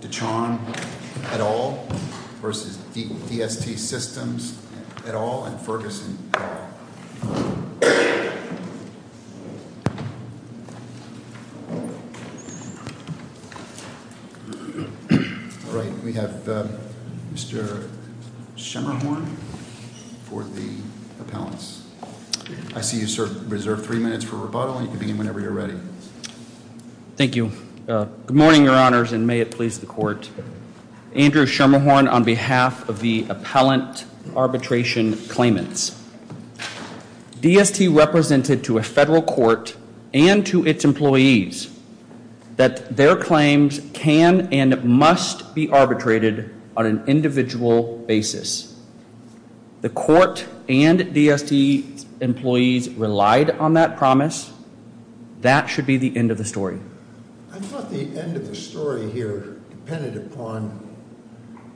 Dachon et al. vs. DST Systems et al. & Ferguson et al. Mr. Schemmerhorn Good morning, Your Honors, and may it please the Court. Andrew Schemmerhorn on behalf of the Appellant Arbitration Claimants. DST represented to a federal court and to its employees that their claims can and must be arbitrated on an individual basis. The Court and DST employees relied on that promise. That should be the end of the story. I thought the end of the story here depended upon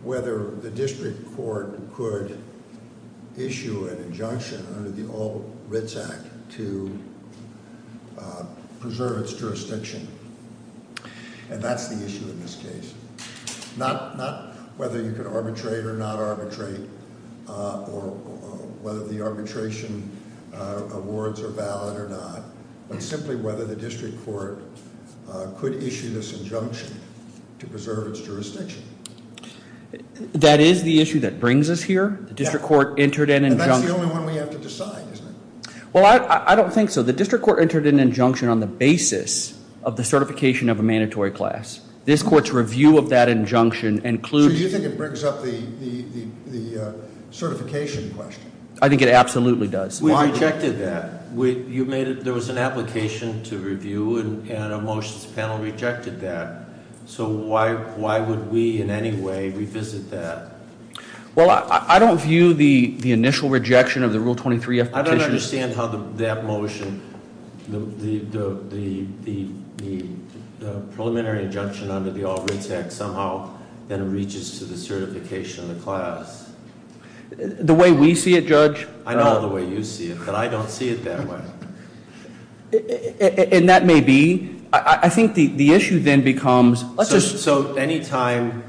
whether the District Court could issue an injunction under the All Writs Act to preserve its jurisdiction. And that's the issue in this case. Not whether you can arbitrate or not arbitrate, or whether the arbitration awards are valid or not, but simply whether the District Court could issue this injunction to preserve its jurisdiction. That is the issue that brings us here? Yes. The District Court entered an injunction. And that's the only one we have to decide, isn't it? Well, I don't think so. The District Court entered an injunction on the basis of the certification of a mandatory class. This court's review of that injunction includes- So you think it brings up the certification question? I think it absolutely does. We rejected that. There was an application to review and a motions panel rejected that. So why would we in any way revisit that? Well, I don't view the initial rejection of the Rule 23 application- I don't understand how that motion, the preliminary injunction under the All Writs Act, somehow then reaches to the certification of the class. The way we see it, Judge? I know the way you see it, but I don't see it that way. And that may be. I think the issue then becomes- So anytime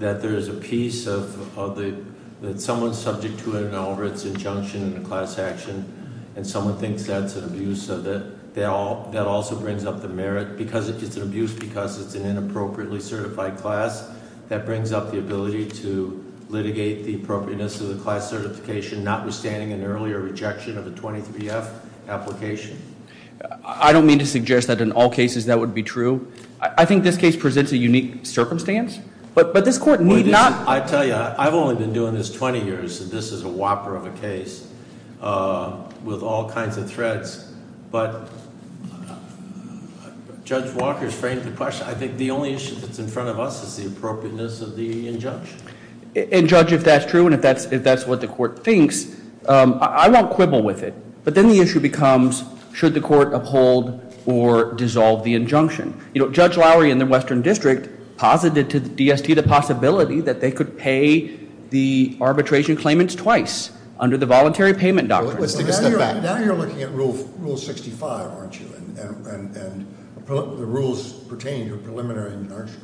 that there's a piece of the, that someone's subject to an All Writs injunction in a class action and someone thinks that's an abuse of it, that also brings up the merit. Because if it's an abuse because it's an inappropriately certified class, that brings up the ability to litigate the appropriateness of the class certification, notwithstanding an earlier rejection of the 23F application. I don't mean to suggest that in all cases that would be true. I think this case presents a unique circumstance. But this court need not- I tell you, I've only been doing this 20 years. This is a whopper of a case with all kinds of threads. But Judge Walker's framed the question. I think the only issue that's in front of us is the appropriateness of the injunction. And Judge, if that's true and if that's what the court thinks, I won't quibble with it. But then the issue becomes, should the court uphold or dissolve the injunction? Judge Lowry in the Western District posited to the DST the possibility that they could pay the arbitration claimants twice under the voluntary payment doctrine. Let's take a step back. Now you're looking at Rule 65, aren't you? And the rules pertaining to preliminary, aren't you?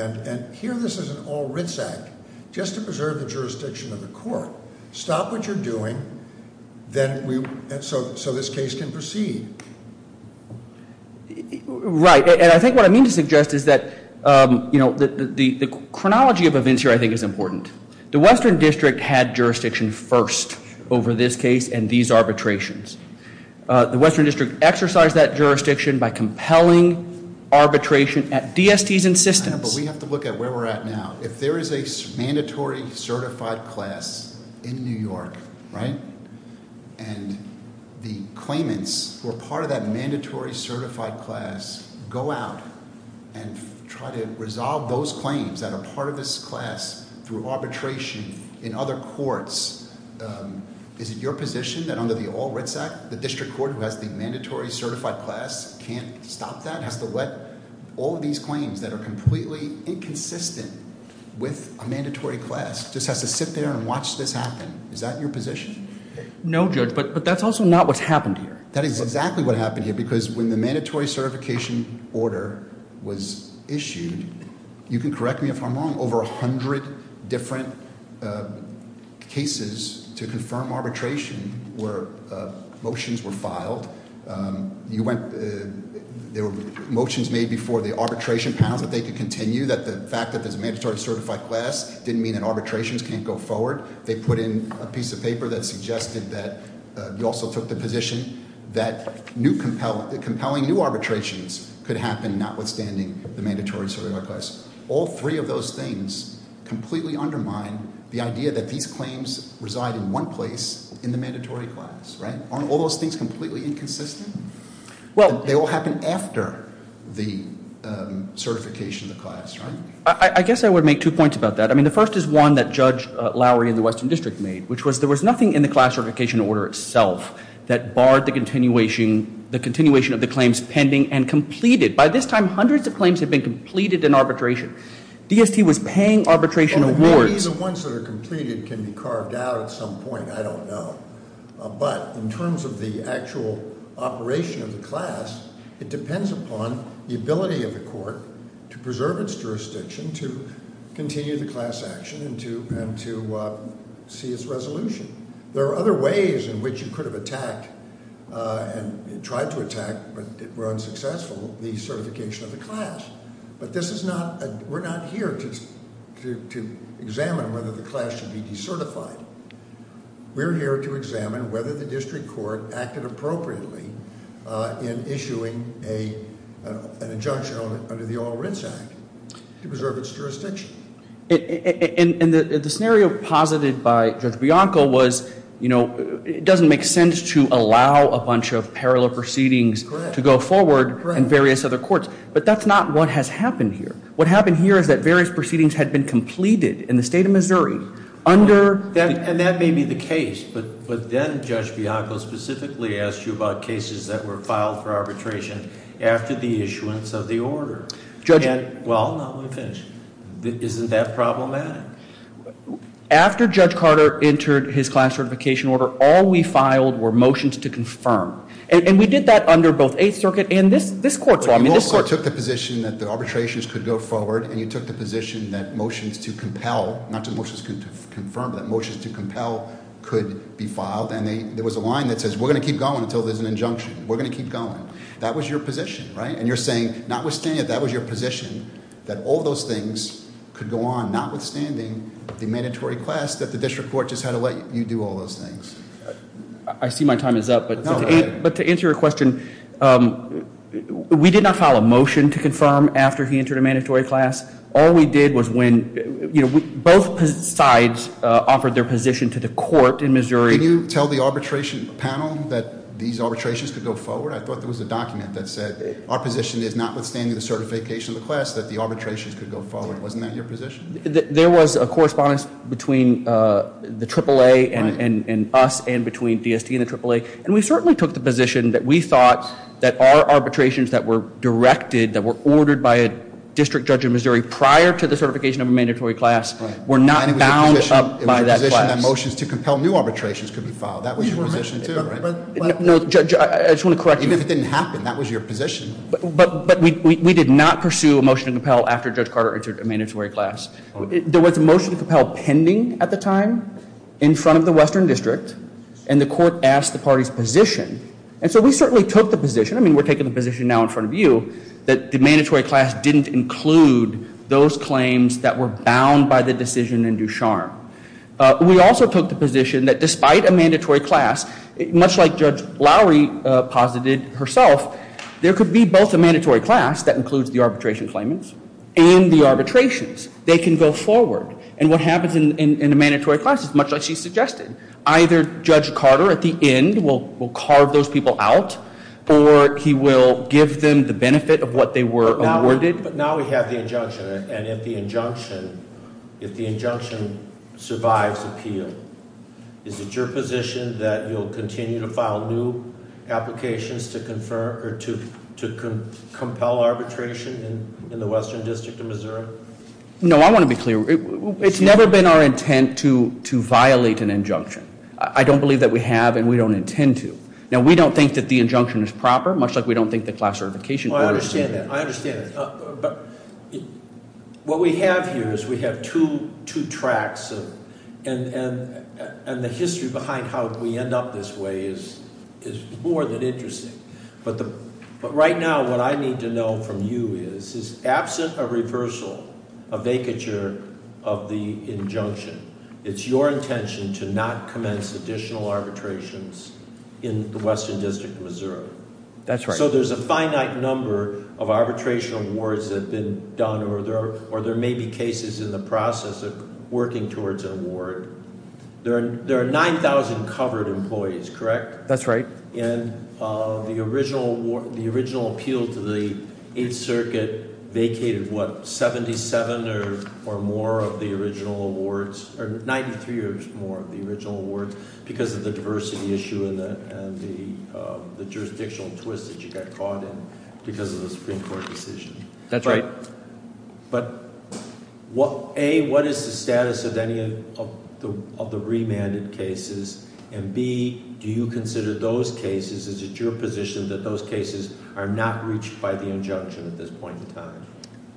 And here this is an All Writs Act just to preserve the jurisdiction of the court. Stop what you're doing so this case can proceed. Right, and I think what I mean to suggest is that the chronology of events here I think is important. The Western District had jurisdiction first over this case and these arbitrations. The Western District exercised that jurisdiction by compelling arbitration at DSTs and systems. But we have to look at where we're at now. If there is a mandatory certified class in New York, right, and the claimants who are part of that mandatory certified class go out and try to resolve those claims that are part of this class through arbitration in other courts, is it your position that under the All Writs Act the district court who has the mandatory certified class can't stop that? Has to let all of these claims that are completely inconsistent with a mandatory class. Just has to sit there and watch this happen. Is that your position? No, Judge, but that's also not what's happened here. That is exactly what happened here because when the mandatory certification order was issued, you can correct me if I'm wrong, over 100 different cases to confirm arbitration where motions were filed. There were motions made before the arbitration panels that they could continue, that the fact that there's a mandatory certified class didn't mean that arbitrations can't go forward. They put in a piece of paper that suggested that you also took the position that compelling new arbitrations could happen notwithstanding the mandatory certified class. All three of those things completely undermine the idea that these claims reside in one place in the mandatory class, right? All those things completely inconsistent? Well- They all happen after the certification of the class, right? I guess I would make two points about that. I mean, the first is one that Judge Lowry in the Western District made, which was there was nothing in the class certification order itself that barred the continuation of the claims pending and completed. By this time, hundreds of claims have been completed in arbitration. DST was paying arbitration awards- Well, maybe the ones that are completed can be carved out at some point. I don't know. But in terms of the actual operation of the class, it depends upon the ability of the court to preserve its jurisdiction, to continue the class action, and to see its resolution. There are other ways in which you could have attacked and tried to attack, but were unsuccessful, the certification of the class. But this is not – we're not here to examine whether the class should be decertified. We're here to examine whether the district court acted appropriately in issuing an injunction under the All Writs Act to preserve its jurisdiction. And the scenario posited by Judge Bianco was, you know, it doesn't make sense to allow a bunch of parallel proceedings to go forward in various other courts. But that's not what has happened here. What happened here is that various proceedings had been completed in the state of Missouri under- And that may be the case. But then Judge Bianco specifically asked you about cases that were filed for arbitration after the issuance of the order. Judge- And, well, now we're finished. Isn't that problematic? After Judge Carter entered his class certification order, all we filed were motions to confirm. And we did that under both Eighth Circuit and this court. But you also took the position that the arbitrations could go forward, and you took the position that motions to compel – not to motions to confirm, but that motions to compel could be filed. And there was a line that says, we're going to keep going until there's an injunction. We're going to keep going. That was your position, right? And you're saying, notwithstanding, that was your position, that all those things could go on, notwithstanding the mandatory class that the district court just had to let you do all those things. I see my time is up. But to answer your question, we did not file a motion to confirm after he entered a mandatory class. All we did was when – both sides offered their position to the court in Missouri. Can you tell the arbitration panel that these arbitrations could go forward? I thought there was a document that said our position is, notwithstanding the certification of the class, that the arbitrations could go forward. Wasn't that your position? There was a correspondence between the AAA and us and between DST and the AAA, and we certainly took the position that we thought that our arbitrations that were directed, that were ordered by a district judge in Missouri prior to the certification of a mandatory class, were not bound up by that class. It was your position that motions to compel new arbitrations could be filed. That was your position, too, right? No, Judge, I just want to correct you. But we did not pursue a motion to compel after Judge Carter entered a mandatory class. There was a motion to compel pending at the time in front of the Western District, and the court asked the party's position. And so we certainly took the position – I mean, we're taking the position now in front of you – that the mandatory class didn't include those claims that were bound by the decision in Ducharme. We also took the position that despite a mandatory class, much like Judge Lowry posited herself, there could be both a mandatory class that includes the arbitration claimants and the arbitrations. They can go forward. And what happens in a mandatory class is much like she suggested. Either Judge Carter at the end will carve those people out, or he will give them the benefit of what they were awarded. But now we have the injunction, and if the injunction survives appeal, is it your position that you'll continue to file new applications to compel arbitration in the Western District of Missouri? No, I want to be clear. It's never been our intent to violate an injunction. I don't believe that we have, and we don't intend to. Now, we don't think that the injunction is proper, much like we don't think the class certification court – I understand that. I understand that. But what we have here is we have two tracks, and the history behind how we end up this way is more than interesting. But right now what I need to know from you is, is absent a reversal, a vacature of the injunction, it's your intention to not commence additional arbitrations in the Western District of Missouri. That's right. So there's a finite number of arbitration awards that have been done, or there may be cases in the process of working towards an award. There are 9,000 covered employees, correct? That's right. And the original appeal to the Eighth Circuit vacated, what, 77 or more of the original awards, or 93 or more of the original awards because of the diversity issue and the jurisdictional twist that you got caught in because of the Supreme Court decision. That's right. But, A, what is the status of any of the remanded cases, and B, do you consider those cases, is it your position that those cases are not reached by the injunction at this point in time?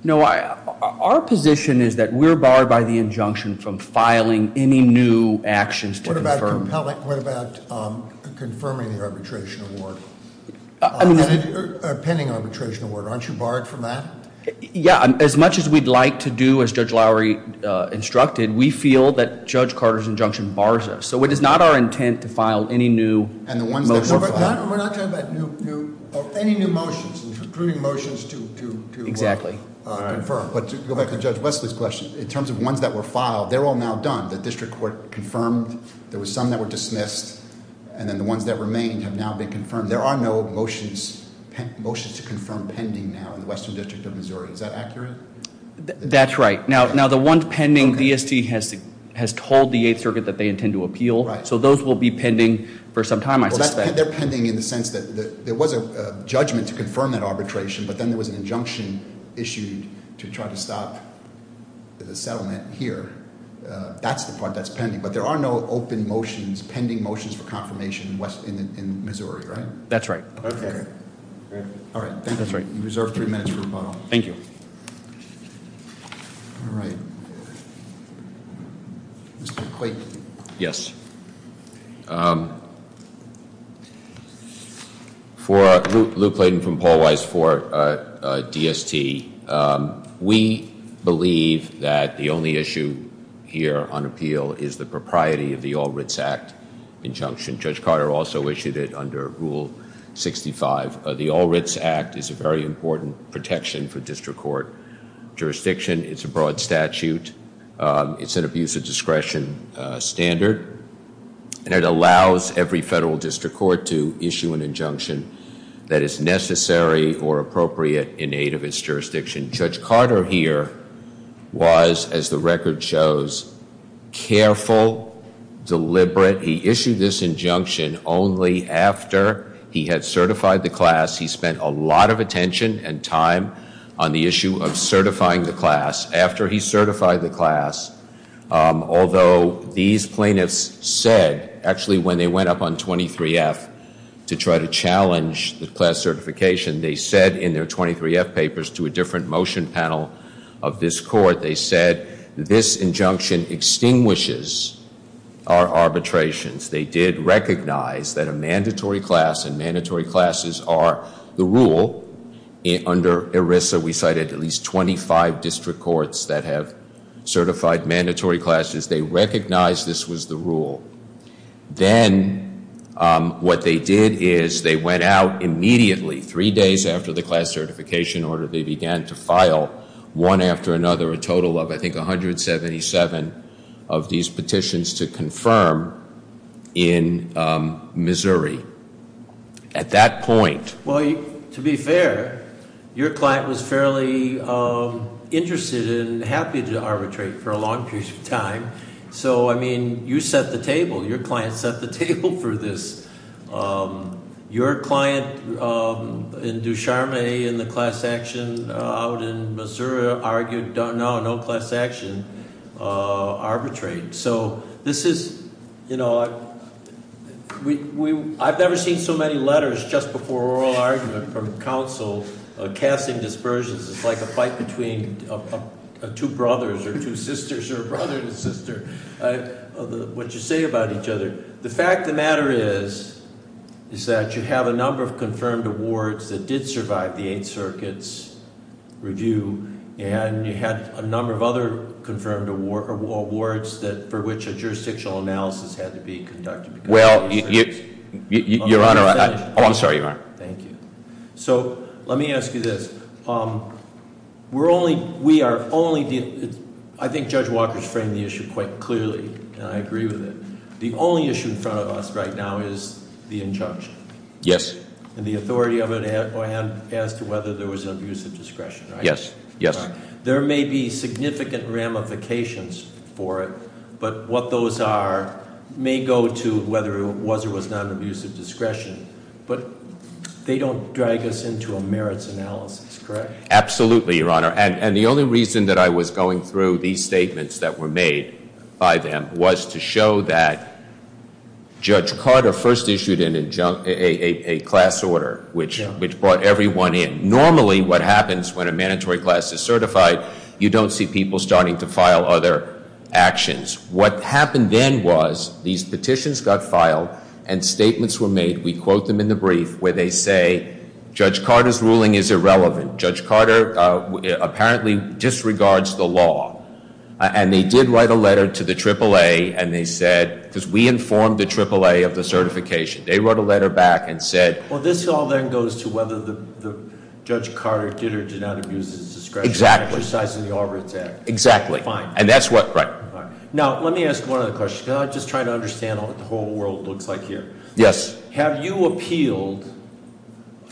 No, our position is that we're barred by the injunction from filing any new actions to confirm. What about confirming the arbitration award? I mean- Or pending arbitration award, aren't you barred from that? Yeah. As much as we'd like to do, as Judge Lowery instructed, we feel that Judge Carter's injunction bars us. So it is not our intent to file any new motions. We're not talking about any new motions, including motions to- Exactly. Confirm. But to go back to Judge Wesley's question, in terms of ones that were filed, they're all now done. The district court confirmed, there were some that were dismissed, and then the ones that remained have now been confirmed. There are no motions to confirm pending now in the Western District of Missouri. Is that accurate? That's right. Now, the ones pending, DST has told the Eighth Circuit that they intend to appeal. Right. So those will be pending for some time, I suspect. They're pending in the sense that there was a judgment to confirm that arbitration, but then there was an injunction issued to try to stop the settlement here. That's the part that's pending. But there are no open motions, pending motions for confirmation in Missouri, right? That's right. Okay. All right. Thank you. You reserve three minutes for rebuttal. Thank you. All right. Mr. Clayton. Yes. For Luke Clayton from Paul Weiss for DST, we believe that the only issue here on appeal is the propriety of the All Writs Act injunction. Judge Carter also issued it under Rule 65. The All Writs Act is a very important protection for district court jurisdiction. It's a broad statute. It's an abuse of discretion standard, and it allows every federal district court to issue an injunction that is necessary or appropriate in aid of its jurisdiction. Judge Carter here was, as the record shows, careful, deliberate. He issued this injunction only after he had certified the class. He spent a lot of attention and time on the issue of certifying the class. After he certified the class, although these plaintiffs said actually when they went up on 23F to try to challenge the class certification, they said in their 23F papers to a different motion panel of this court, they said this injunction extinguishes our arbitrations. They did recognize that a mandatory class and mandatory classes are the rule. Under ERISA, we cited at least 25 district courts that have certified mandatory classes. They recognized this was the rule. Then what they did is they went out immediately, three days after the class certification order, they began to file one after another a total of, I think, 177 of these petitions to confirm in Missouri. At that point- Well, to be fair, your client was fairly interested and happy to arbitrate for a long period of time. So, I mean, you set the table. Your client set the table for this. Your client in Ducharme in the class action out in Missouri argued no, no class action arbitrate. So this is, I've never seen so many letters just before oral argument from counsel casting dispersions. It's like a fight between two brothers or two sisters or brother and sister, what you say about each other. The fact of the matter is, is that you have a number of confirmed awards that did survive the Eighth Circuit's review. And you had a number of other confirmed awards for which a jurisdictional analysis had to be conducted. Well, your honor, I'm sorry, your honor. Thank you. So, let me ask you this. We are only, I think Judge Walker's framed the issue quite clearly, and I agree with it. The only issue in front of us right now is the injunction. Yes. And the authority of it as to whether there was an abuse of discretion, right? Yes, yes. There may be significant ramifications for it, but what those are may go to whether it was or was not an abuse of discretion, but they don't drag us into a merits analysis, correct? Absolutely, your honor. And the only reason that I was going through these statements that were made by them was to show that Judge Carter first issued a class order, which brought everyone in. Normally, what happens when a mandatory class is certified, you don't see people starting to file other actions. What happened then was these petitions got filed and statements were made, we quote them in the brief, where they say, Judge Carter's ruling is irrelevant. Judge Carter apparently disregards the law. And they did write a letter to the AAA, and they said, because we informed the AAA of the certification. They wrote a letter back and said- Well, this all then goes to whether the Judge Carter did or did not abuse his discretion. Exactly. Exercising the Arbiters Act. Exactly. Fine. And that's what, right. Now, let me ask one other question, because I'm just trying to understand what the whole world looks like here. Yes. Have you appealed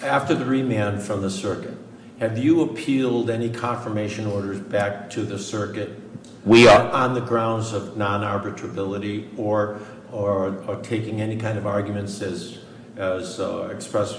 after the remand from the circuit? Have you appealed any confirmation orders back to the circuit- We are. On the grounds of non-arbitrability or taking any kind of arguments as expressed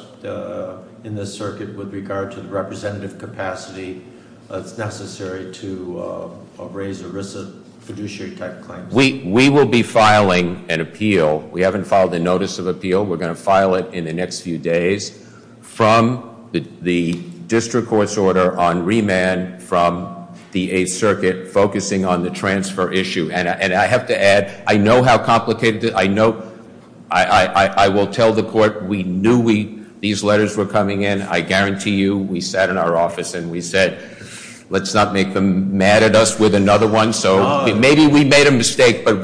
in this circuit with regard to the representative capacity that's necessary to raise a risk of fiduciary type claims. We will be filing an appeal. We haven't filed a notice of appeal. We're going to file it in the next few days. From the district court's order on remand from the Eighth Circuit, focusing on the transfer issue. And I have to add, I know how complicated it is. I will tell the court, we knew these letters were coming in. I guarantee you, we sat in our office and we said, let's not make them mad at us with another one. So maybe we made a mistake, but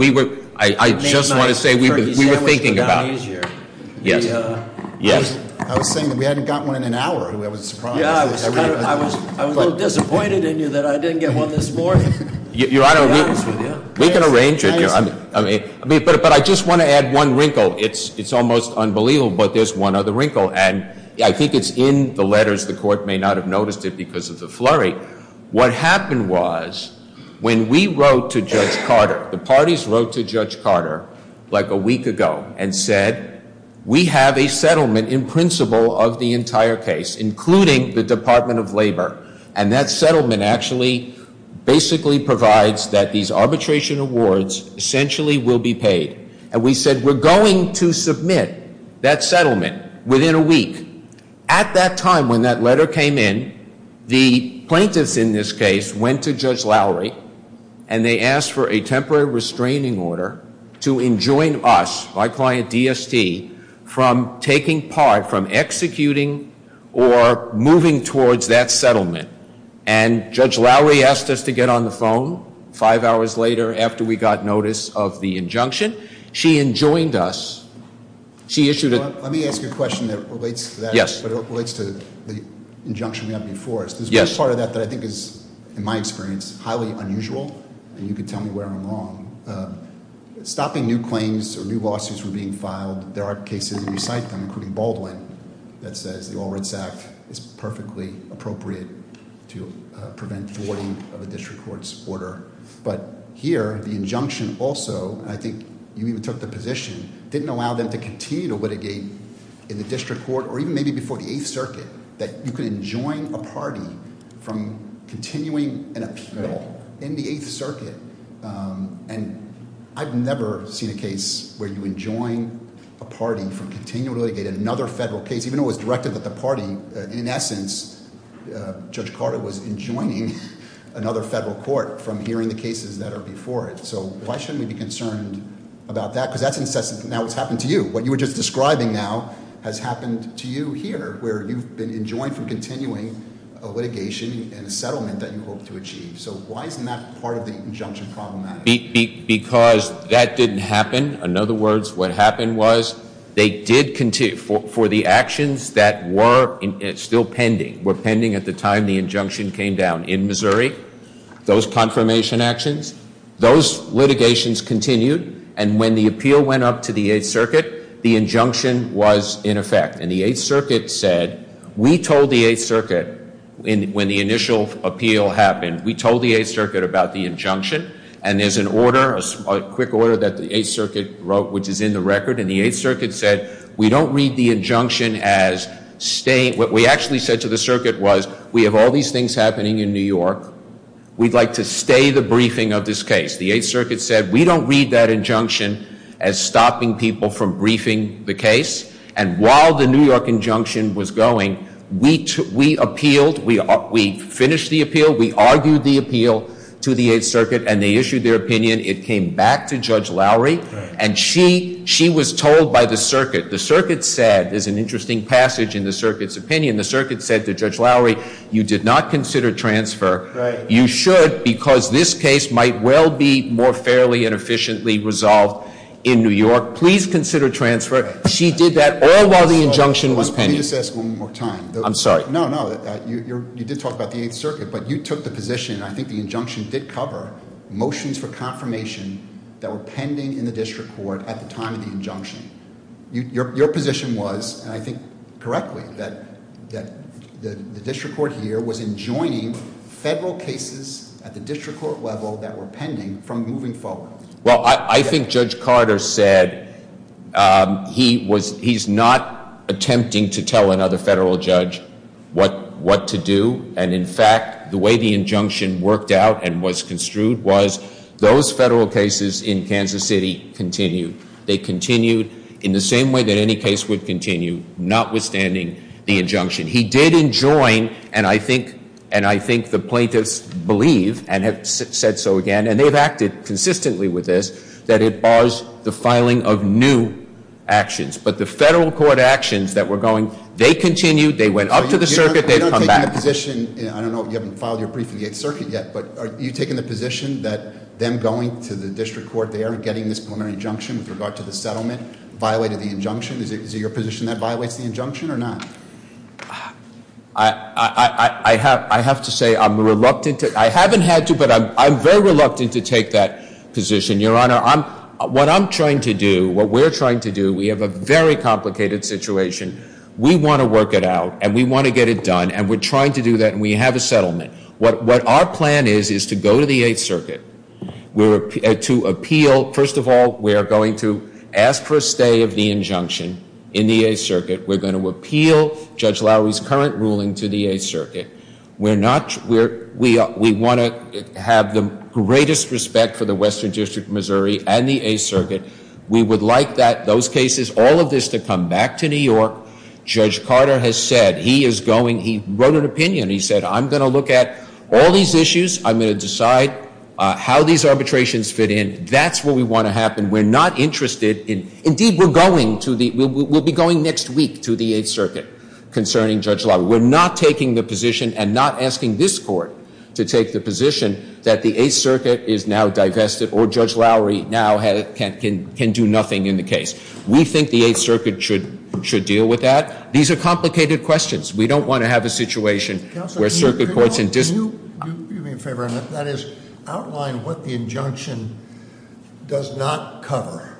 I just want to say we were thinking about it. Yes. I was saying that we hadn't got one in an hour. I was surprised. I was a little disappointed in you that I didn't get one this morning. Your Honor, we can arrange it. But I just want to add one wrinkle. It's almost unbelievable, but there's one other wrinkle. And I think it's in the letters. The court may not have noticed it because of the flurry. What happened was when we wrote to Judge Carter, the parties wrote to Judge Carter like a week ago and said, we have a settlement in principle of the entire case, including the Department of Labor. And that settlement actually basically provides that these arbitration awards essentially will be paid. And we said, we're going to submit that settlement within a week. At that time, when that letter came in, the plaintiffs in this case went to Judge Lowry, and they asked for a temporary restraining order to enjoin us, my client DST, from taking part, from executing or moving towards that settlement. And Judge Lowry asked us to get on the phone five hours later after we got notice of the injunction. She enjoined us. Let me ask you a question that relates to that, but it relates to the injunction we have before us. There's one part of that that I think is, in my experience, highly unusual, and you can tell me where I'm wrong. Stopping new claims or new lawsuits from being filed, there are cases, and you cite them, including Baldwin, that says the All Reds Act is perfectly appropriate to prevent thwarting of a district court's order. But here, the injunction also, and I think you even took the position, didn't allow them to continue to litigate in the district court or even maybe before the Eighth Circuit that you could enjoin a party from continuing an appeal in the Eighth Circuit. And I've never seen a case where you enjoin a party from continuing to litigate another federal case, even though it was directed at the party. In essence, Judge Carter was enjoining another federal court from hearing the cases that are before it. So why shouldn't we be concerned about that? Because that's incessant. Now it's happened to you. What you were just describing now has happened to you here, where you've been enjoined from continuing a litigation and a settlement that you hope to achieve. So why isn't that part of the injunction problematic? Because that didn't happen. In other words, what happened was they did continue. For the actions that were still pending, were pending at the time the injunction came down in Missouri, those confirmation actions, those litigations continued. And when the appeal went up to the Eighth Circuit, the injunction was in effect. And the Eighth Circuit said, we told the Eighth Circuit when the initial appeal happened, we told the Eighth Circuit about the injunction. And there's an order, a quick order that the Eighth Circuit wrote, which is in the record. And the Eighth Circuit said, we don't read the injunction as staying. What we actually said to the circuit was, we have all these things happening in New York. We'd like to stay the briefing of this case. The Eighth Circuit said, we don't read that injunction as stopping people from briefing the case. And while the New York injunction was going, we appealed. We finished the appeal. We argued the appeal to the Eighth Circuit. And they issued their opinion. It came back to Judge Lowry. And she was told by the circuit. The circuit said, there's an interesting passage in the circuit's opinion. The circuit said to Judge Lowry, you did not consider transfer. You should, because this case might well be more fairly and efficiently resolved in New York. Please consider transfer. She did that all while the injunction was pending. Let me just ask one more time. I'm sorry. No, no. You did talk about the Eighth Circuit. But you took the position, and I think the injunction did cover, motions for confirmation that were pending in the district court at the time of the injunction. Your position was, and I think correctly, that the district court here was enjoining federal cases at the district court level that were pending from moving forward. Well, I think Judge Carter said he's not attempting to tell another federal judge what to do. And, in fact, the way the injunction worked out and was construed was those federal cases in Kansas City continued. They continued in the same way that any case would continue, notwithstanding the injunction. He did enjoin, and I think the plaintiffs believe and have said so again. And they've acted consistently with this, that it bars the filing of new actions. But the federal court actions that were going, they continued. They went up to the circuit. They come back. You don't take that position. I don't know. You haven't filed your brief in the Eighth Circuit yet. But are you taking the position that them going to the district court there and getting this preliminary injunction with regard to the settlement violated the injunction? Is it your position that violates the injunction or not? I have to say I'm reluctant. I haven't had to, but I'm very reluctant to take that position, Your Honor. What I'm trying to do, what we're trying to do, we have a very complicated situation. We want to work it out, and we want to get it done, and we're trying to do that, and we have a settlement. What our plan is is to go to the Eighth Circuit to appeal. First of all, we are going to ask for a stay of the injunction in the Eighth Circuit. We're going to appeal Judge Lowery's current ruling to the Eighth Circuit. We want to have the greatest respect for the Western District of Missouri and the Eighth Circuit. We would like that, those cases, all of this to come back to New York. Judge Carter has said he is going. He wrote an opinion. He said, I'm going to look at all these issues. I'm going to decide how these arbitrations fit in. That's what we want to happen. We're not interested. Indeed, we're going to the, we'll be going next week to the Eighth Circuit concerning Judge Lowery. We're not taking the position and not asking this court to take the position that the Eighth Circuit is now divested, or Judge Lowery now can do nothing in the case. We think the Eighth Circuit should deal with that. These are complicated questions. We don't want to have a situation where circuit courts and dis- Could you do me a favor and that is outline what the injunction does not cover.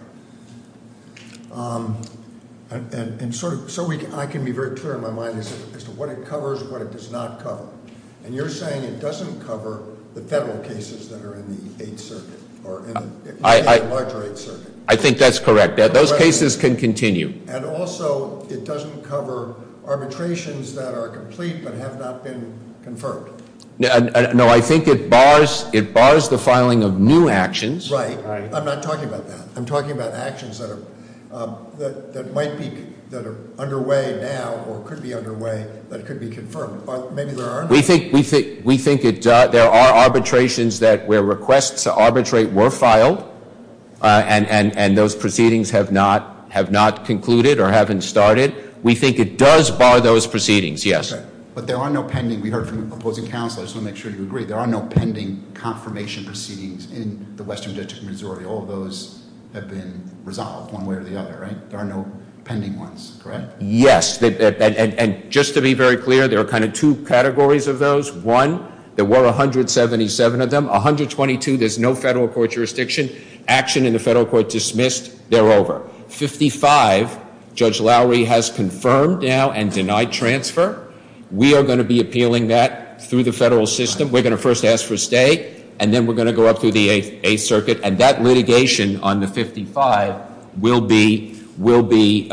And so I can be very clear in my mind as to what it covers, what it does not cover. And you're saying it doesn't cover the federal cases that are in the Eighth Circuit, or in the larger Eighth Circuit. I think that's correct. Those cases can continue. And also, it doesn't cover arbitrations that are complete but have not been confirmed. No, I think it bars the filing of new actions. Right. I'm not talking about that. I'm talking about actions that are, that might be, that are underway now, or could be underway, that could be confirmed. Maybe there are- We think it does. There are arbitrations that where requests to arbitrate were filed. And those proceedings have not concluded or haven't started. We think it does bar those proceedings. Yes. But there are no pending. We heard from opposing counselors. I want to make sure you agree. There are no pending confirmation proceedings in the Western District of Missouri. All of those have been resolved one way or the other, right? There are no pending ones, correct? Yes. And just to be very clear, there are kind of two categories of those. One, there were 177 of them. 122, there's no federal court jurisdiction. Action in the federal court dismissed. They're over. 55, Judge Lowry has confirmed now and denied transfer. We are going to be appealing that through the federal system. We're going to first ask for a stay, and then we're going to go up through the Eighth Circuit. And that litigation on the 55 will be continuing.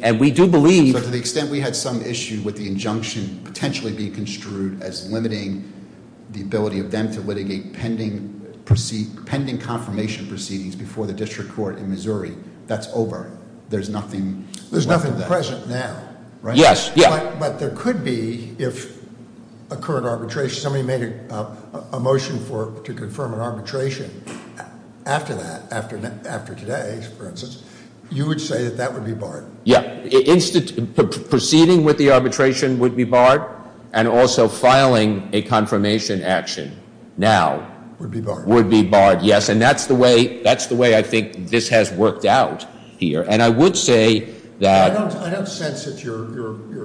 But to the extent we had some issue with the injunction potentially being construed as limiting the ability of them to litigate pending confirmation proceedings before the district court in Missouri, that's over. There's nothing left of that. There's nothing present now, right? Yes. But there could be, if a current arbitration, somebody made a motion to confirm an arbitration after that, after today, for instance, you would say that that would be barred. Yeah. Proceeding with the arbitration would be barred, and also filing a confirmation action now. Would be barred. Would be barred, yes. And that's the way I think this has worked out here. And I would say that. I don't sense that your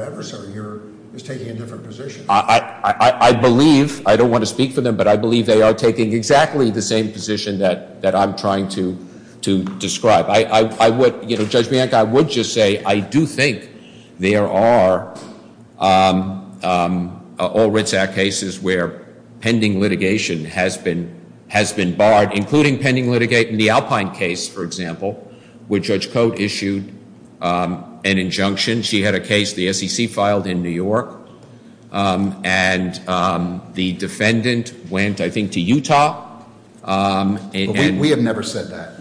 adversary here is taking a different position. I believe, I don't want to speak for them, but I believe they are taking exactly the same position that I'm trying to describe. I would, you know, Judge Bianca, I would just say I do think there are all Writzak cases where pending litigation has been barred, including pending litigation. The Alpine case, for example, where Judge Cote issued an injunction. She had a case the SEC filed in New York, and the defendant went, I think, to Utah. We have never said that.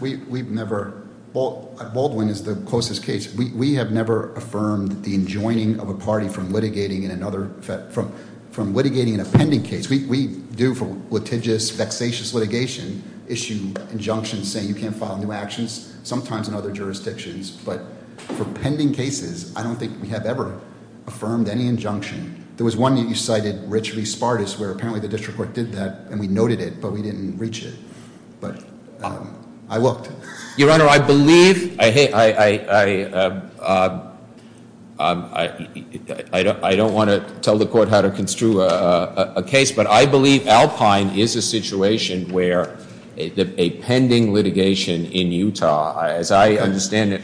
Baldwin is the closest case. We have never affirmed the enjoining of a party from litigating in a pending case. We do, for litigious, vexatious litigation, issue injunctions saying you can't file new actions, sometimes in other jurisdictions. But for pending cases, I don't think we have ever affirmed any injunction. There was one that you cited, Rich V. Spartus, where apparently the district court did that, and we noted it, but we didn't reach it. But I looked. Your Honor, I believe, I don't want to tell the court how to construe a case, but I believe Alpine is a situation where a pending litigation in Utah, as I understand it,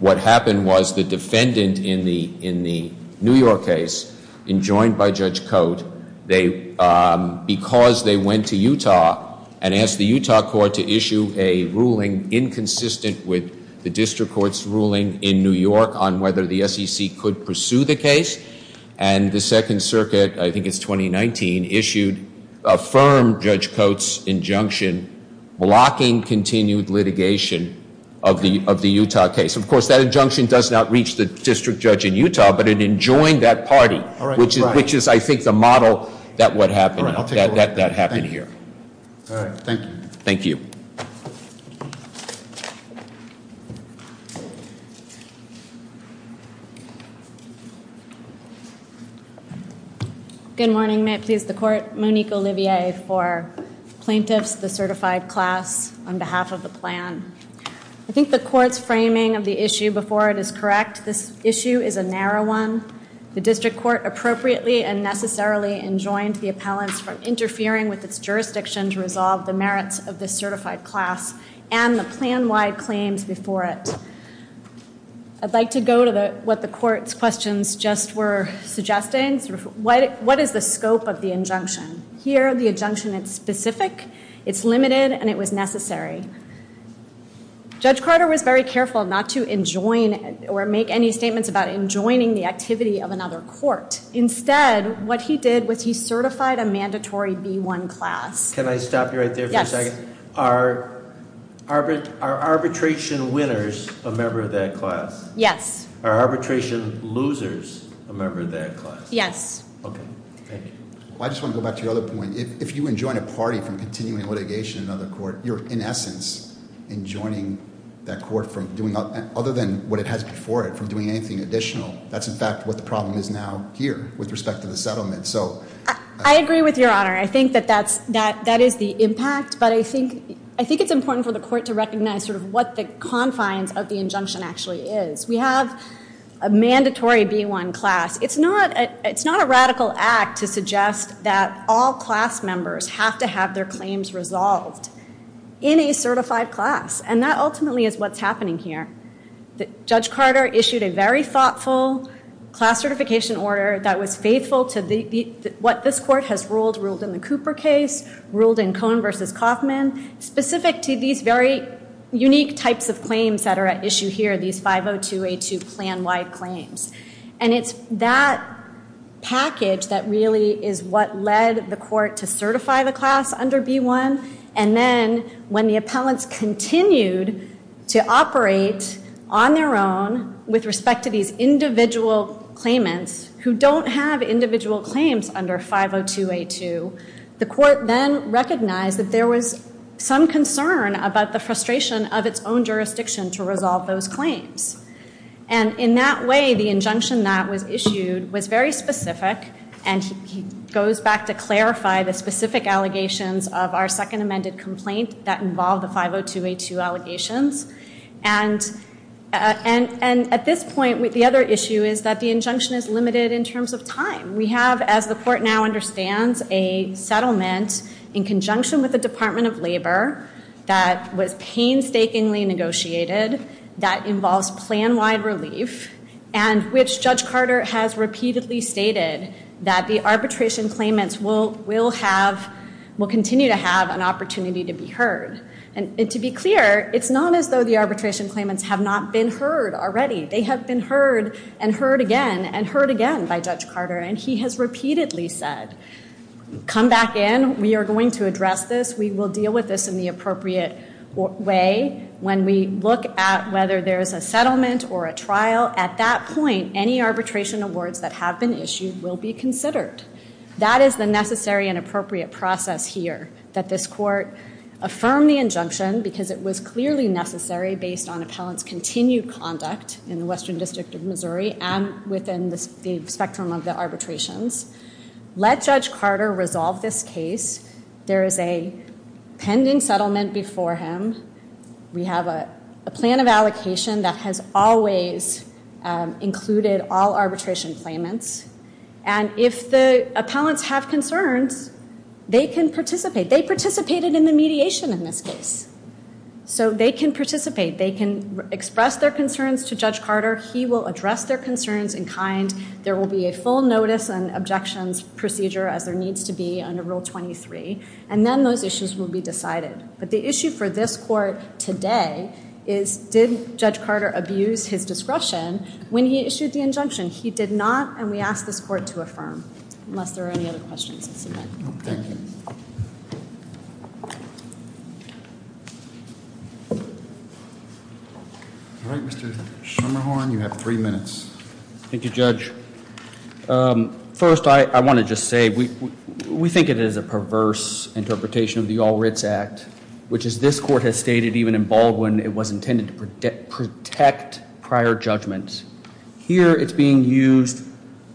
what happened was the defendant in the New York case, enjoined by Judge Cote, because they went to Utah and asked the Utah court to issue a ruling inconsistent with the district court's ruling in New York on whether the SEC could pursue the case, and the Second Circuit, I think it's 2019, issued a firm Judge Cote's injunction blocking continued litigation of the Utah case. Of course, that injunction does not reach the district judge in Utah, but it enjoined that party, which is, I think, the model that that happened here. Thank you. Good morning. May it please the court. Monique Olivier for plaintiffs, the certified class, on behalf of the plan. I think the court's framing of the issue before it is correct. This issue is a narrow one. The district court appropriately and necessarily enjoined the appellants from interfering with its jurisdiction to resolve the merits of the certified class and the plan-wide claims before it. I'd like to go to what the court's questions just were suggesting. What is the scope of the injunction? Here, the injunction is specific, it's limited, and it was necessary. Judge Carter was very careful not to enjoin or make any statements about enjoining the activity of another court. Instead, what he did was he certified a mandatory B1 class. Can I stop you right there for a second? Yes. Are arbitration winners a member of that class? Yes. Are arbitration losers a member of that class? Yes. Okay, thank you. I just want to go back to your other point. If you enjoin a party from continuing litigation in another court, you're, in essence, enjoining that court from doing, other than what it has before it, from doing anything additional. That's, in fact, what the problem is now here with respect to the settlement. I agree with Your Honor. I think that that is the impact, but I think it's important for the court to recognize what the confines of the injunction actually is. We have a mandatory B1 class. It's not a radical act to suggest that all class members have to have their claims resolved in a certified class, and that ultimately is what's happening here. Judge Carter issued a very thoughtful class certification order that was faithful to what this court has ruled, ruled in the Cooper case, ruled in Cohen v. Kaufman, specific to these very unique types of claims that are at issue here, these 50282 plan-wide claims. And it's that package that really is what led the court to certify the class under B1, and then when the appellants continued to operate on their own with respect to these individual claimants who don't have individual claims under 50282, the court then recognized that there was some concern about the frustration of its own jurisdiction to resolve those claims. And in that way, the injunction that was issued was very specific, and he goes back to clarify the specific allegations of our second amended complaint that involved the 50282 allegations. And at this point, the other issue is that the injunction is limited in terms of time. We have, as the court now understands, a settlement in conjunction with the Department of Labor that was painstakingly negotiated that involves plan-wide relief, and which Judge Carter has repeatedly stated that the arbitration claimants will continue to have an opportunity to be heard. And to be clear, it's not as though the arbitration claimants have not been heard already. They have been heard and heard again and heard again by Judge Carter, and he has repeatedly said, come back in, we are going to address this, we will deal with this in the appropriate way when we look at whether there is a settlement or a trial. At that point, any arbitration awards that have been issued will be considered. That is the necessary and appropriate process here, that this court affirm the injunction because it was clearly necessary based on appellant's continued conduct in the Western District of Missouri and within the spectrum of the arbitrations, let Judge Carter resolve this case. There is a pending settlement before him. We have a plan of allocation that has always included all arbitration claimants. And if the appellants have concerns, they can participate. They participated in the mediation in this case, so they can participate. They can express their concerns to Judge Carter. He will address their concerns in kind. There will be a full notice and objections procedure as there needs to be under Rule 23, and then those issues will be decided. But the issue for this court today is did Judge Carter abuse his discretion when he issued the injunction? He did not, and we ask this court to affirm, unless there are any other questions. Thank you. All right, Mr. Schermerhorn, you have three minutes. Thank you, Judge. First, I want to just say we think it is a perverse interpretation of the All Writs Act, which as this court has stated even in Baldwin, it was intended to protect prior judgments. Here it's being used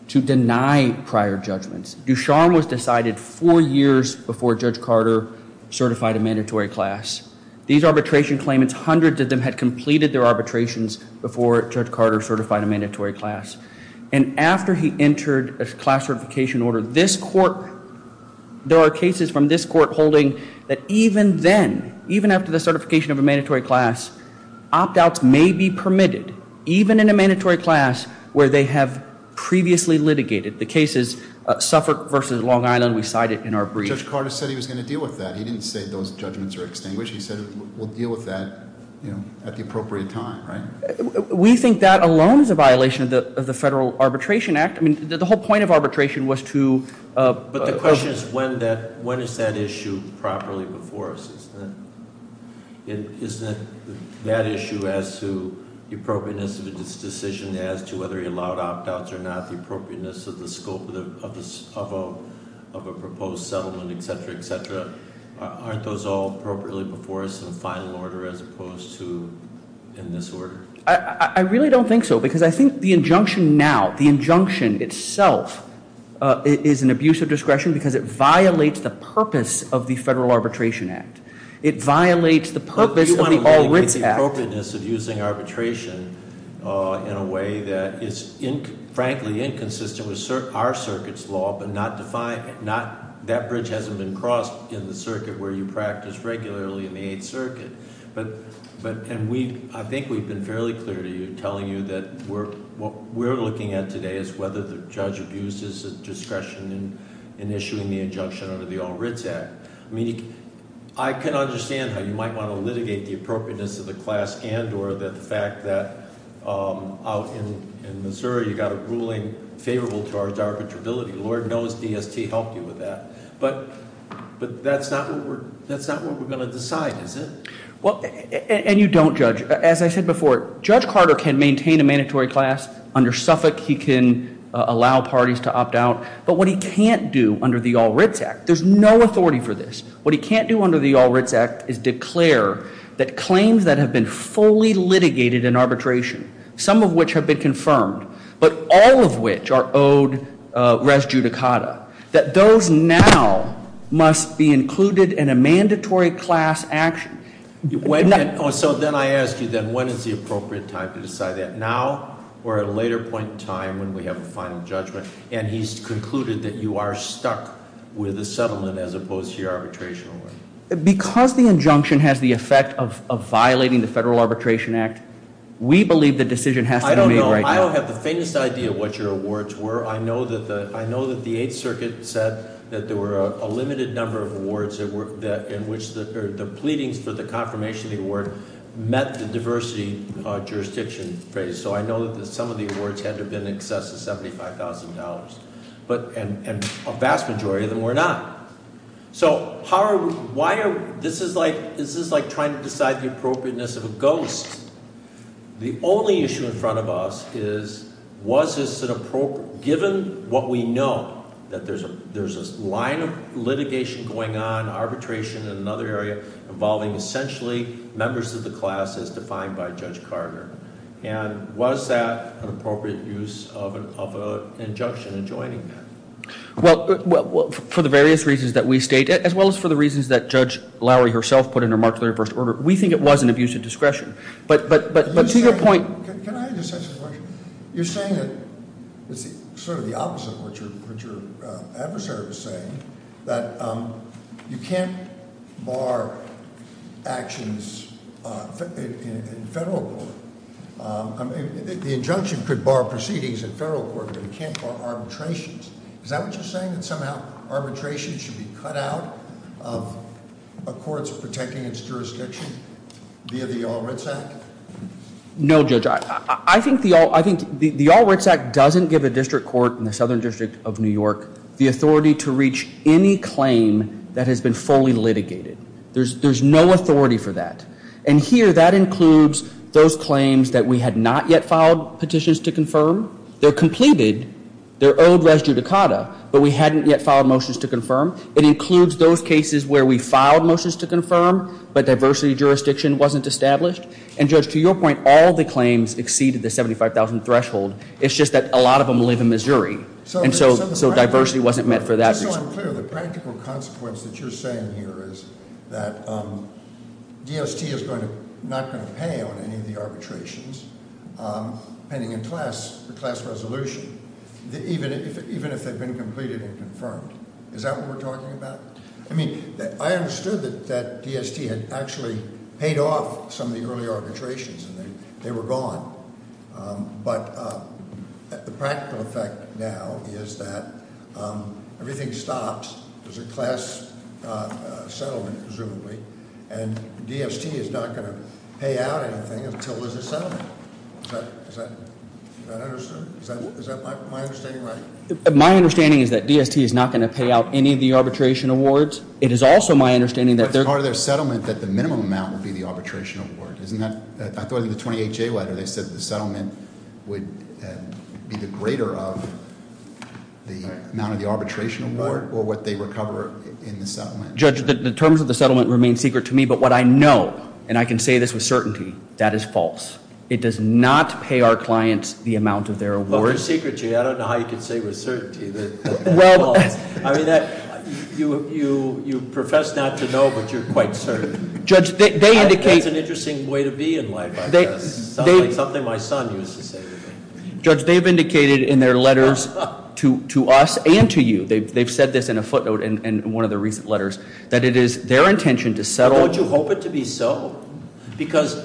to deny prior judgments. Ducharme was decided four years before Judge Carter certified a mandatory class. These arbitration claimants, hundreds of them had completed their arbitrations before Judge Carter certified a mandatory class. And after he entered a class certification order, there are cases from this court holding that even then, even after the certification of a mandatory class, opt-outs may be permitted, even in a mandatory class where they have previously litigated. The case is Suffolk v. Long Island. We cite it in our brief. Judge Carter said he was going to deal with that. He didn't say those judgments are extinguished. He said we'll deal with that at the appropriate time, right? We think that alone is a violation of the Federal Arbitration Act. I mean, the whole point of arbitration was to- But the question is when is that issue properly before us? Isn't it that issue as to the appropriateness of its decision as to whether it allowed opt-outs or not, the appropriateness of the scope of a proposed settlement, etc., etc.? Aren't those all appropriately before us in final order as opposed to in this order? I really don't think so, because I think the injunction now, the injunction itself, is an abuse of discretion because it violates the purpose of the Federal Arbitration Act. It violates the appropriateness of using arbitration in a way that is, frankly, inconsistent with our circuit's law, but that bridge hasn't been crossed in the circuit where you practice regularly in the Eighth Circuit. I think we've been fairly clear to you, telling you that what we're looking at today is whether the judge abuses discretion in issuing the injunction under the All Writs Act. I mean, I can understand how you might want to litigate the appropriateness of the class and or the fact that out in Missouri you got a ruling favorable to our arbitrability. Lord knows DST helped you with that. But that's not what we're going to decide, is it? Well, and you don't, Judge. As I said before, Judge Carter can maintain a mandatory class under Suffolk. He can allow parties to opt out. But what he can't do under the All Writs Act, there's no authority for this. What he can't do under the All Writs Act is declare that claims that have been fully litigated in arbitration, some of which have been confirmed, but all of which are owed res judicata, that those now must be included in a mandatory class action. So then I ask you then, when is the appropriate time to decide that? Now or at a later point in time when we have a final judgment, and he's concluded that you are stuck with a settlement as opposed to your arbitration award. Because the injunction has the effect of violating the Federal Arbitration Act, we believe the decision has to be made right now. I don't have the faintest idea what your awards were. I know that the Eighth Circuit said that there were a limited number of awards in which the pleadings for the confirmation of the award met the diversity jurisdiction phrase. So I know that some of the awards had to have been in excess of $75,000, and a vast majority of them were not. So this is like trying to decide the appropriateness of a ghost. The only issue in front of us is, was this an appropriate, given what we know, that there's a line of litigation going on, arbitration in another area involving essentially members of the class as defined by Judge Carter. And was that an appropriate use of an injunction in joining that? Well, for the various reasons that we state, as well as for the reasons that Judge Lowry herself put in her Marjorie First Order, we think it was an abuse of discretion. But to your point- Can I just ask a question? You're saying that it's sort of the opposite of what your adversary was saying, that you can't bar actions in federal court. The injunction could bar proceedings in federal court, but it can't bar arbitrations. Is that what you're saying, that somehow arbitration should be cut out of a court's protecting its jurisdiction via the All Writs Act? No, Judge. I think the All Writs Act doesn't give a district court in the Southern District of New York the authority to reach any claim that has been fully litigated. There's no authority for that. And here, that includes those claims that we had not yet filed petitions to confirm. They're completed. They're owed res judicata, but we hadn't yet filed motions to confirm. It includes those cases where we filed motions to confirm, but diversity jurisdiction wasn't established. And, Judge, to your point, all the claims exceeded the $75,000 threshold. It's just that a lot of them live in Missouri, and so diversity wasn't met for that reason. Just so I'm clear, the practical consequence that you're saying here is that DST is not going to pay on any of the arbitrations, depending on the class resolution, even if they've been completed and confirmed. Is that what we're talking about? I mean, I understood that DST had actually paid off some of the early arbitrations, and they were gone. But the practical effect now is that everything stops. There's a class settlement, presumably, and DST is not going to pay out anything until there's a settlement. Is that understood? Is that my understanding right? My understanding is that DST is not going to pay out any of the arbitration awards. It is also my understanding that part of their settlement, that the minimum amount would be the arbitration award. I thought in the 28-J letter they said the settlement would be the greater of the amount of the arbitration award or what they recover in the settlement. Judge, the terms of the settlement remain secret to me, but what I know, and I can say this with certainty, that is false. It does not pay our clients the amount of their award. I don't know how you can say with certainty that that's false. I mean, you profess not to know, but you're quite certain. That's an interesting way to be in life, I guess. Sounds like something my son used to say to me. Judge, they've indicated in their letters to us and to you, they've said this in a footnote in one of their recent letters, that it is their intention to settle- Don't you hope it to be so? Because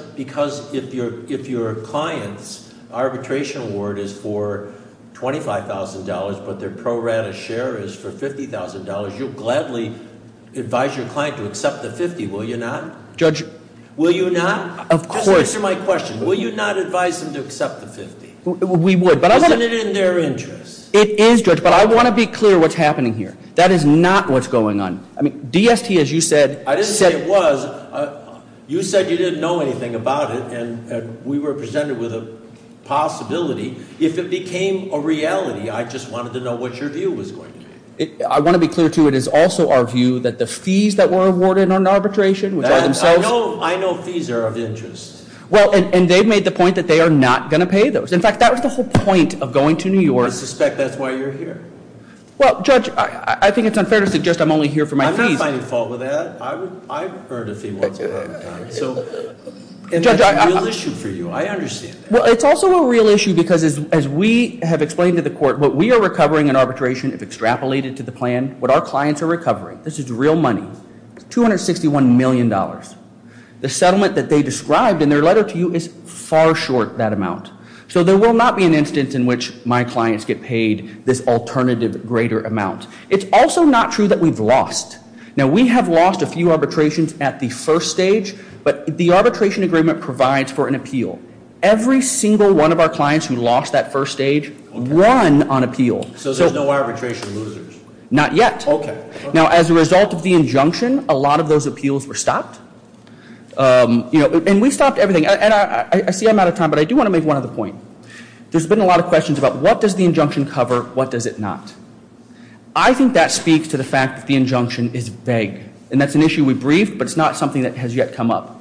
if your client's arbitration award is for $25,000, but their pro rata share is for $50,000, you'll gladly advise your client to accept the 50, will you not? Judge- Will you not? Of course- Just answer my question. Will you not advise them to accept the 50? We would, but I want to- Isn't it in their interest? It is, Judge, but I want to be clear what's happening here. That is not what's going on. I mean, DST, as you said- I didn't say it was. You said you didn't know anything about it, and we were presented with a possibility. If it became a reality, I just wanted to know what your view was going to be. I want to be clear, too. It is also our view that the fees that were awarded on arbitration, which are themselves- I know fees are of interest. Well, and they've made the point that they are not going to pay those. In fact, that was the whole point of going to New York. I suspect that's why you're here. Well, Judge, I think it's unfair to suggest I'm only here for my fees. I'm not finding fault with that. I've heard a fee once in a lifetime. And that's a real issue for you. I understand that. Well, it's also a real issue because, as we have explained to the court, what we are recovering in arbitration, if extrapolated to the plan, what our clients are recovering, this is real money, $261 million. The settlement that they described in their letter to you is far short that amount. So there will not be an instance in which my clients get paid this alternative greater amount. It's also not true that we've lost. Now, we have lost a few arbitrations at the first stage, but the arbitration agreement provides for an appeal. Every single one of our clients who lost that first stage won on appeal. So there's no arbitration losers? Not yet. Okay. Now, as a result of the injunction, a lot of those appeals were stopped. And we stopped everything. And I see I'm out of time, but I do want to make one other point. There's been a lot of questions about what does the injunction cover, what does it not? I think that speaks to the fact that the injunction is vague. And that's an issue we briefed, but it's not something that has yet come up.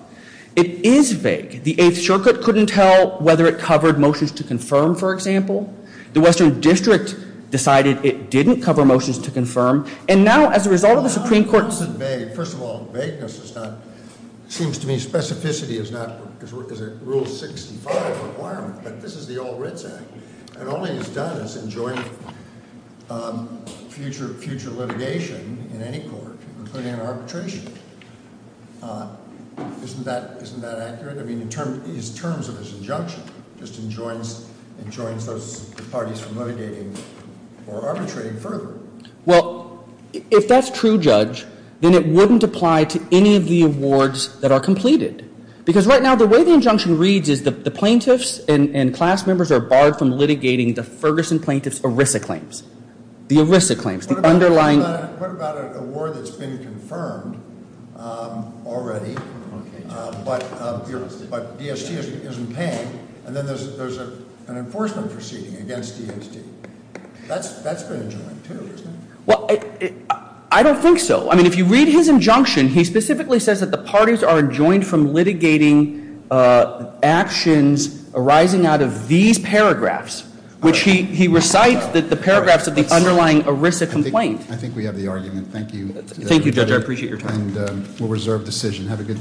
It is vague. The Eighth Circuit couldn't tell whether it covered motions to confirm, for example. The Western District decided it didn't cover motions to confirm. And now, as a result of the Supreme Court- First of all, vagueness is not- It seems to me specificity is not- Because it rules six and five requirement. But this is the All Writs Act. And all it has done is enjoined future litigation in any court, including an arbitration. Isn't that accurate? I mean, in terms of its injunction, it just enjoins those parties from litigating or arbitrating further. Well, if that's true, Judge, then it wouldn't apply to any of the awards that are completed. Because right now, the way the injunction reads is the plaintiffs and class members are barred from litigating the Ferguson plaintiff's ERISA claims. The ERISA claims, the underlying- What about an award that's been confirmed already, but DST isn't paying, and then there's an enforcement proceeding against DST? That's been enjoined, too, isn't it? Well, I don't think so. I mean, if you read his injunction, he specifically says that the parties are enjoined from litigating actions arising out of these paragraphs, which he recites the paragraphs of the underlying ERISA complaint. I think we have the argument. Thank you. Thank you, Judge. I appreciate your time. And we'll reserve decision.